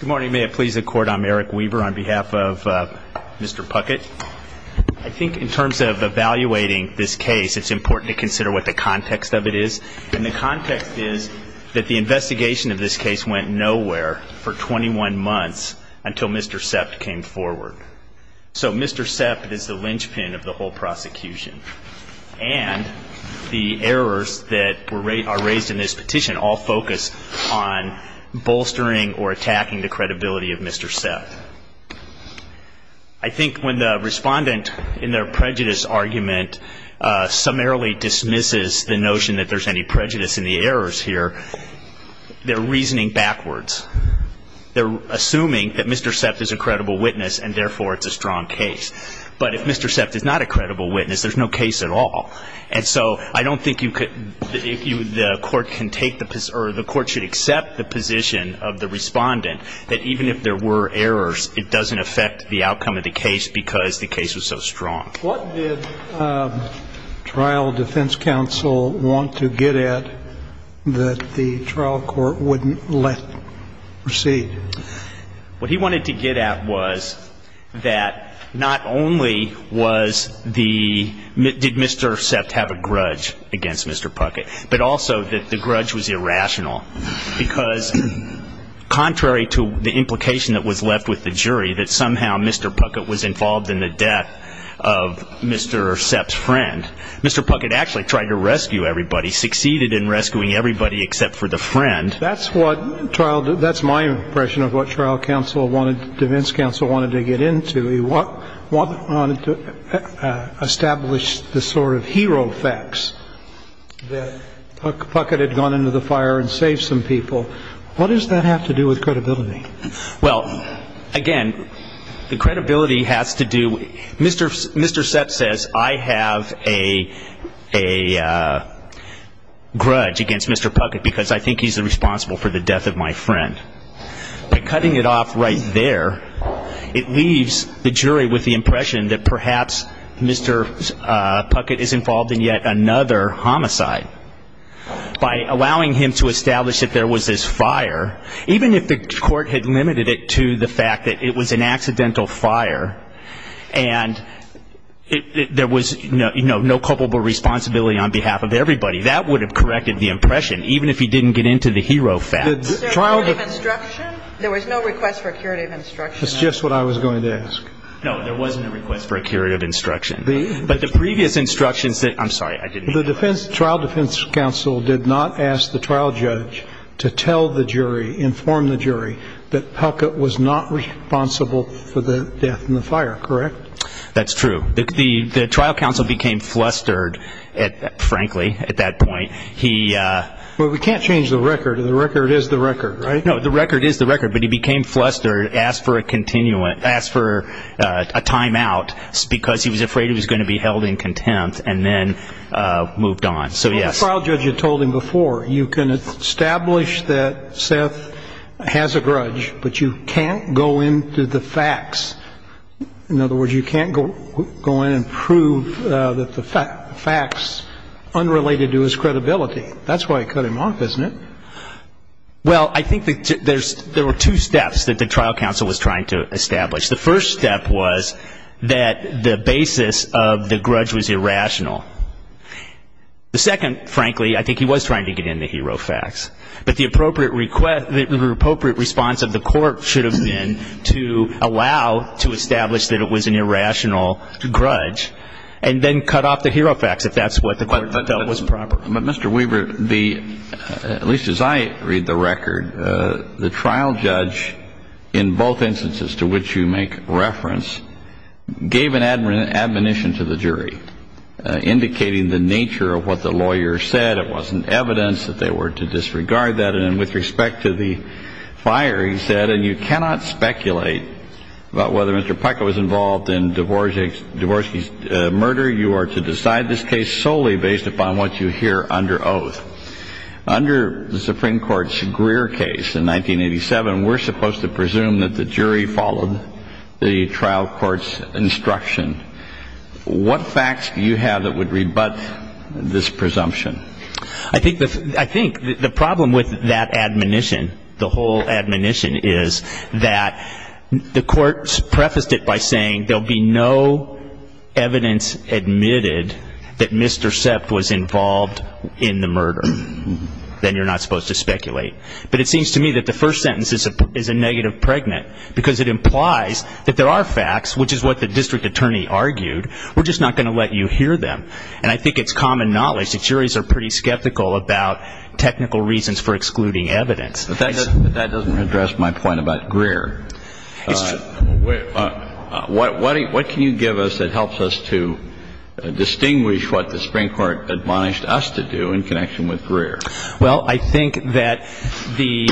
Good morning. May it please the Court, I'm Eric Weaver on behalf of Mr. Puckett. I think in terms of evaluating this case, it's important to consider what the context of it is. And the context is that the investigation of this case went nowhere for 21 months until Mr. Sepp came forward. So Mr. Sepp is the linchpin of the whole prosecution. And the errors that are raised in this petition all focus on bolstering or attacking the credibility of Mr. Sepp. I think when the respondent in their prejudice argument summarily dismisses the notion that there's any prejudice in the errors here, they're reasoning backwards. They're assuming that Mr. Sepp is a credible witness and therefore it's a strong case. But if Mr. Sepp is not a credible witness, there's no case at all. And so I don't think you could – the Court can take the – or the Court should accept the position of the respondent that even if there were errors, it doesn't affect the outcome of the case because the case was so strong. What did trial defense counsel want to get at that the trial court wouldn't let proceed? What he wanted to get at was that not only was the – did Mr. Sepp have a grudge against Mr. Puckett, but also that the grudge was irrational because contrary to the implication that was left with the jury, that somehow Mr. Puckett was involved in the death of Mr. Sepp's friend, Mr. Puckett actually tried to rescue everybody, succeeded in rescuing everybody except for the friend. That's what trial – that's my impression of what trial counsel wanted – defense counsel wanted to get into. He wanted to establish the sort of hero facts that Puckett had gone into the fire and saved some people. What does that have to do with credibility? Well, again, the credibility has to do – Mr. Sepp says, I have a grudge against Mr. Puckett because I think he's responsible for the death of my friend. By cutting it off right there, it leaves the jury with the impression that perhaps Mr. Puckett is involved in yet another homicide. By allowing him to establish that there was this fire, even if the court had limited it to the fact that it was an accidental fire and there was no culpable responsibility on behalf of everybody, that would have corrected the impression, even if he didn't get into the hero facts. Was there a curative instruction? There was no request for a curative instruction. That's just what I was going to ask. No, there wasn't a request for a curative instruction. But the previous instructions that – I'm sorry, I didn't mean to. The trial defense counsel did not ask the trial judge to tell the jury, inform the jury, that Puckett was not responsible for the death and the fire, correct? That's true. The trial counsel became flustered, frankly, at that point. He – Well, we can't change the record. The record is the record, right? No, the record is the record. But he became flustered, asked for a timeout because he was afraid he was going to be held in contempt and then moved on. So, yes. The trial judge had told him before, you can establish that Seth has a grudge, but you can't go into the facts. In other words, you can't go in and prove that the facts unrelated to his credibility. That's why it cut him off, isn't it? Well, I think there were two steps that the trial counsel was trying to establish. The first step was that the basis of the grudge was irrational. The second, frankly, I think he was trying to get into hero facts. But the appropriate response of the court should have been to allow to establish that it was an irrational grudge and then cut off the hero facts, if that's what the court felt was proper. But, Mr. Weaver, the – at least as I read the record, the trial judge, in both instances to which you make reference, gave an admonition to the jury indicating the nature of what the lawyer said. It wasn't evidence that they were to disregard that. And with respect to the fire, he said, and you cannot speculate about whether Mr. Pika was involved in Dvorsky's murder. You are to decide this case solely based upon what you hear under oath. Under the Supreme Court's Greer case in 1987, we're supposed to presume that the jury followed the trial court's instruction. What facts do you have that would rebut this presumption? I think the – I think the problem with that admonition, the whole admonition, is that the court prefaced it by saying there will be no evidence admitted that Mr. Sepp was involved in the murder. Then you're not supposed to speculate. But it seems to me that the first sentence is a negative pregnant because it implies that there are facts, which is what the district attorney argued, we're just not going to let you hear them. And I think it's common knowledge that juries are pretty skeptical about technical reasons for excluding evidence. But that doesn't address my point about Greer. What can you give us that helps us to distinguish what the Supreme Court admonished us to do in connection with Greer? Well, I think that the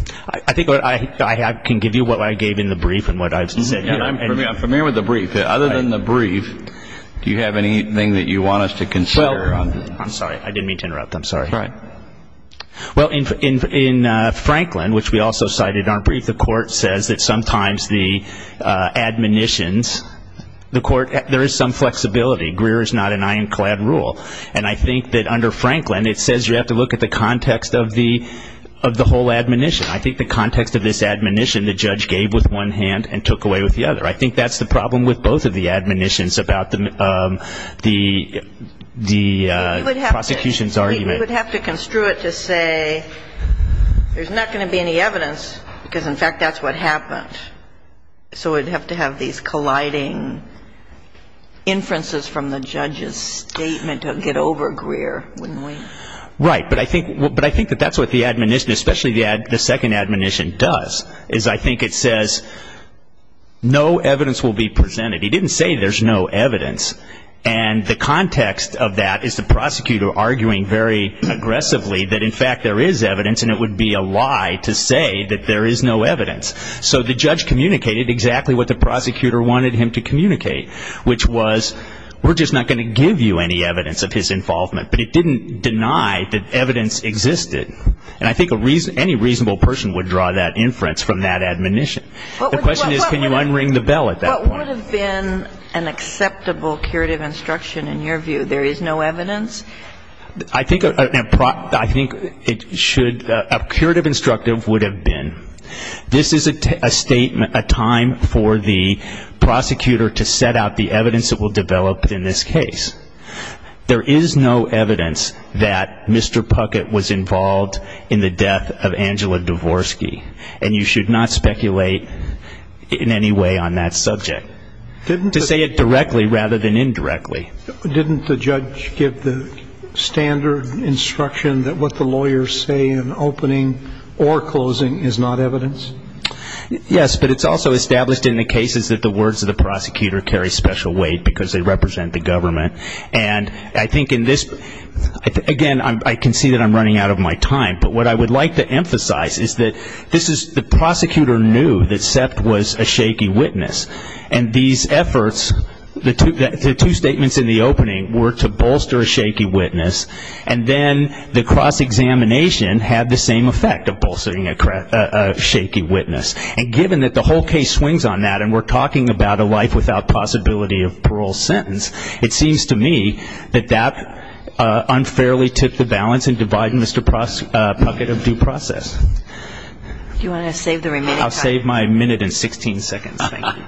– I think I can give you what I gave in the brief and what I've said here. I'm familiar with the brief. Other than the brief, do you have anything that you want us to consider? I'm sorry. I didn't mean to interrupt. I'm sorry. Right. Well, in Franklin, which we also cited in our brief, the court says that sometimes the admonitions – the court – there is some flexibility. Greer is not an ironclad rule. And I think that under Franklin it says you have to look at the context of the whole admonition. I think the context of this admonition the judge gave with one hand and took away with the other. I think that's the problem with both of the admonitions about the prosecution's argument. We would have to construe it to say there's not going to be any evidence because, in fact, that's what happened. So we'd have to have these colliding inferences from the judge's statement to get over Greer, wouldn't we? Right. But I think that that's what the admonition, especially the second admonition, does, is I think it says no evidence will be presented. He didn't say there's no evidence. And the context of that is the prosecutor arguing very aggressively that, in fact, there is evidence and it would be a lie to say that there is no evidence. So the judge communicated exactly what the prosecutor wanted him to communicate, which was we're just not going to give you any evidence of his involvement. But it didn't deny that evidence existed. And I think any reasonable person would draw that inference from that admonition. The question is can you unring the bell at that point? What would have been an acceptable curative instruction in your view? There is no evidence? I think it should ñ a curative instructive would have been this is a statement, a time for the prosecutor to set out the evidence that will develop in this case. There is no evidence that Mr. Puckett was involved in the death of Angela Dvorsky. And you should not speculate in any way on that subject. To say it directly rather than indirectly. Didn't the judge give the standard instruction that what the lawyers say in opening or closing is not evidence? Yes, but it's also established in the cases that the words of the prosecutor carry special weight because they represent the government. And I think in this ñ again, I can see that I'm running out of my time. But what I would like to emphasize is that this is the prosecutor knew that Seft was a shaky witness. And these efforts, the two statements in the opening were to bolster a shaky witness. And then the cross-examination had the same effect of bolstering a shaky witness. And given that the whole case swings on that and we're talking about a life without possibility of parole sentence, it seems to me that that unfairly took the balance in dividing Mr. Puckett of due process. Do you want to save the remaining time? I'll save my minute and 16 seconds. Thank you.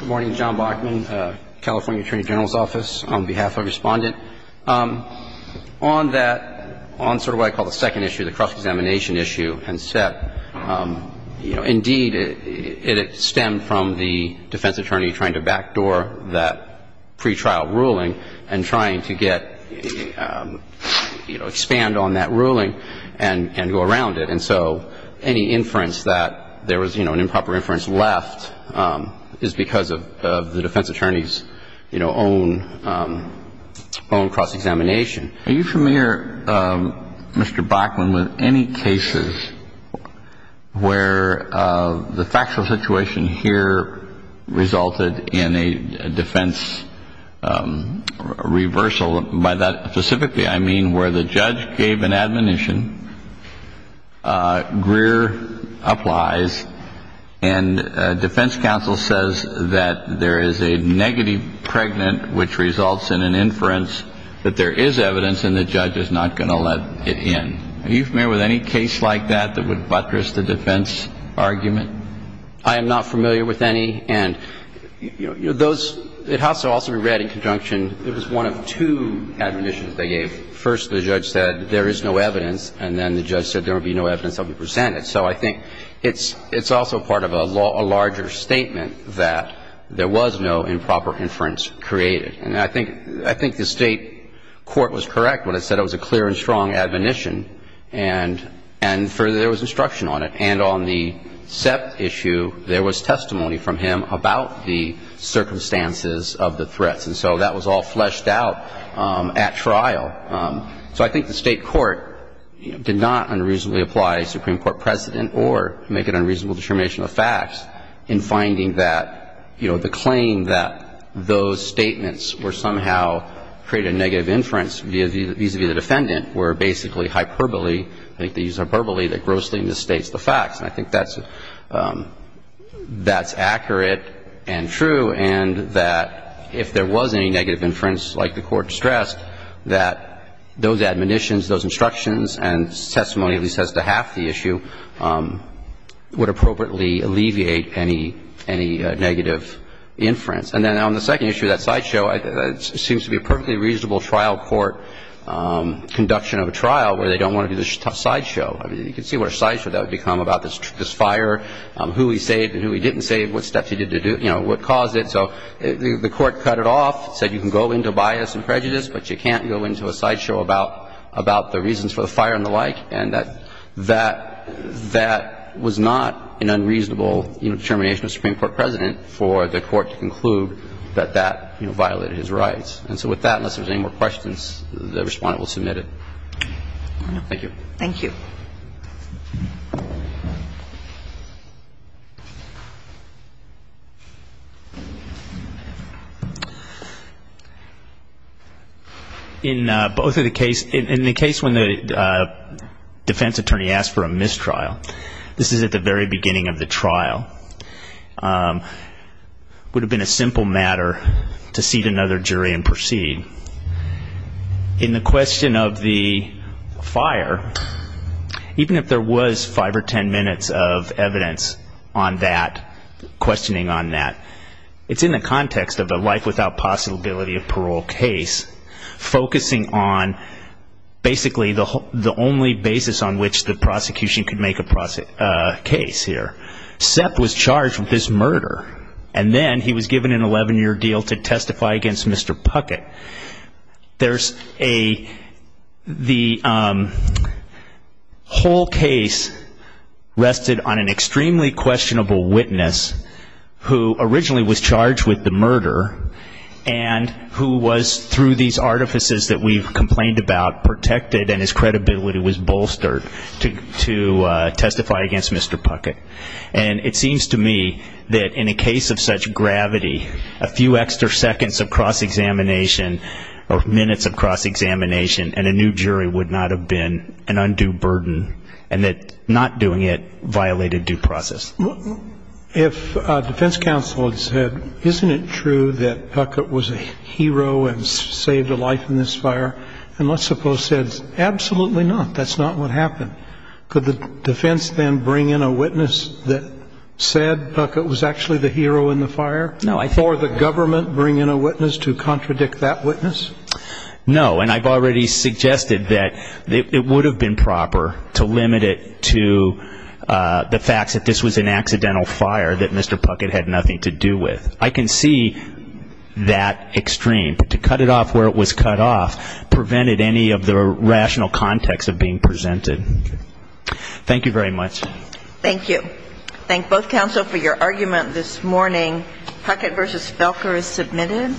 Good morning. John Bachman, California Attorney General's Office. On behalf of the Respondent, on that ñ on sort of what I call the second issue, the cross-examination issue and Seft, you know, indeed, it stemmed from the defense attorney trying to backdoor that pretrial ruling and trying to get ñ you know, expand on that ruling and go around it. And so any inference that there was, you know, an improper inference left is because of the defense attorney's, you know, own ñ own cross-examination. Are you familiar, Mr. Bachman, with any cases where the factual situation here resulted in a defense reversal? By that specifically, I mean where the judge gave an admonition, Greer applies, and defense counsel says that there is a negative pregnant which results in an inference, that there is evidence, and the judge is not going to let it in. Are you familiar with any case like that that would buttress the defense argument? I am not familiar with any. And, you know, those ñ it has to also be read in conjunction. It was one of two admonitions they gave. First, the judge said there is no evidence, and then the judge said there would be no evidence of the percentage. So I think it's also part of a larger statement that there was no improper inference created. And I think the State court was correct when it said it was a clear and strong admonition, and there was instruction on it. And on the Sepp issue, there was testimony from him about the circumstances of the threats. And so that was all fleshed out at trial. So I think the State court did not unreasonably apply a Supreme Court precedent or make an unreasonable determination of facts in finding that, you know, the claim that those statements were somehow created negative inference vis-à-vis the defendant were basically hyperbole. I think they use hyperbole that grossly misstates the facts. And I think that's ñ that's accurate and true, and that if there was any negative inference, like the Court stressed, that those admonitions, those instructions, and testimony at least as to half the issue would appropriately alleviate any ñ any negative inference. And then on the second issue, that sideshow, it seems to be a perfectly reasonable trial court conduction of a trial where they don't want to do this tough sideshow. I mean, you can see what a sideshow that would become about this fire, who he saved and who he didn't save, what steps he did to do ñ you know, what caused it. So the Court cut it off, said you can go into bias and prejudice, but you can't go into a sideshow about ñ about the reasons for the fire and the like. And that ñ that ñ that was not an unreasonable, you know, determination of a Supreme Court precedent for the Court to conclude that that, you know, violated his rights. And so with that, unless there's any more questions, the Respondent will submit it. Thank you. In both of the case ñ in the case when the defense attorney asked for a mistrial, this is at the very beginning of the trial, would have been a simple matter to seat another jury and proceed. In the question of the fire, the question of the fire, even if there was five or ten minutes of evidence on that, questioning on that, it's in the context of a life without possibility of parole case, focusing on basically the only basis on which the prosecution could make a case here. Sepp was charged with this murder, and then he was given an 11-year deal to testify against Mr. Puckett. There's a ñ the whole case rested on an extremely questionable witness who originally was charged with the murder, and who was, through these artifices that we've complained about, protected and his credibility was bolstered to testify against Mr. Puckett. And it seems to me that in a case of such gravity, a few extra seconds of cross-examination or minutes of cross-examination and a new jury would not have been an undue burden, and that not doing it violated due process. If a defense counsel had said, isn't it true that Puckett was a hero and saved a life in this fire, and let's suppose Sepp said, absolutely not, that's not what happened, could the defense then bring in a witness that said Puckett was actually the hero in the fire? No, I think ñ Or the government bring in a witness to contradict that witness? No, and I've already suggested that it would have been proper to limit it to the fact that this was an accidental fire that Mr. Puckett had nothing to do with. I can see that extreme, but to cut it off where it was cut off prevented any of the rational context of being presented. Thank you very much. Thank you. Thank both counsel for your argument this morning. Puckett v. Felker is submitted.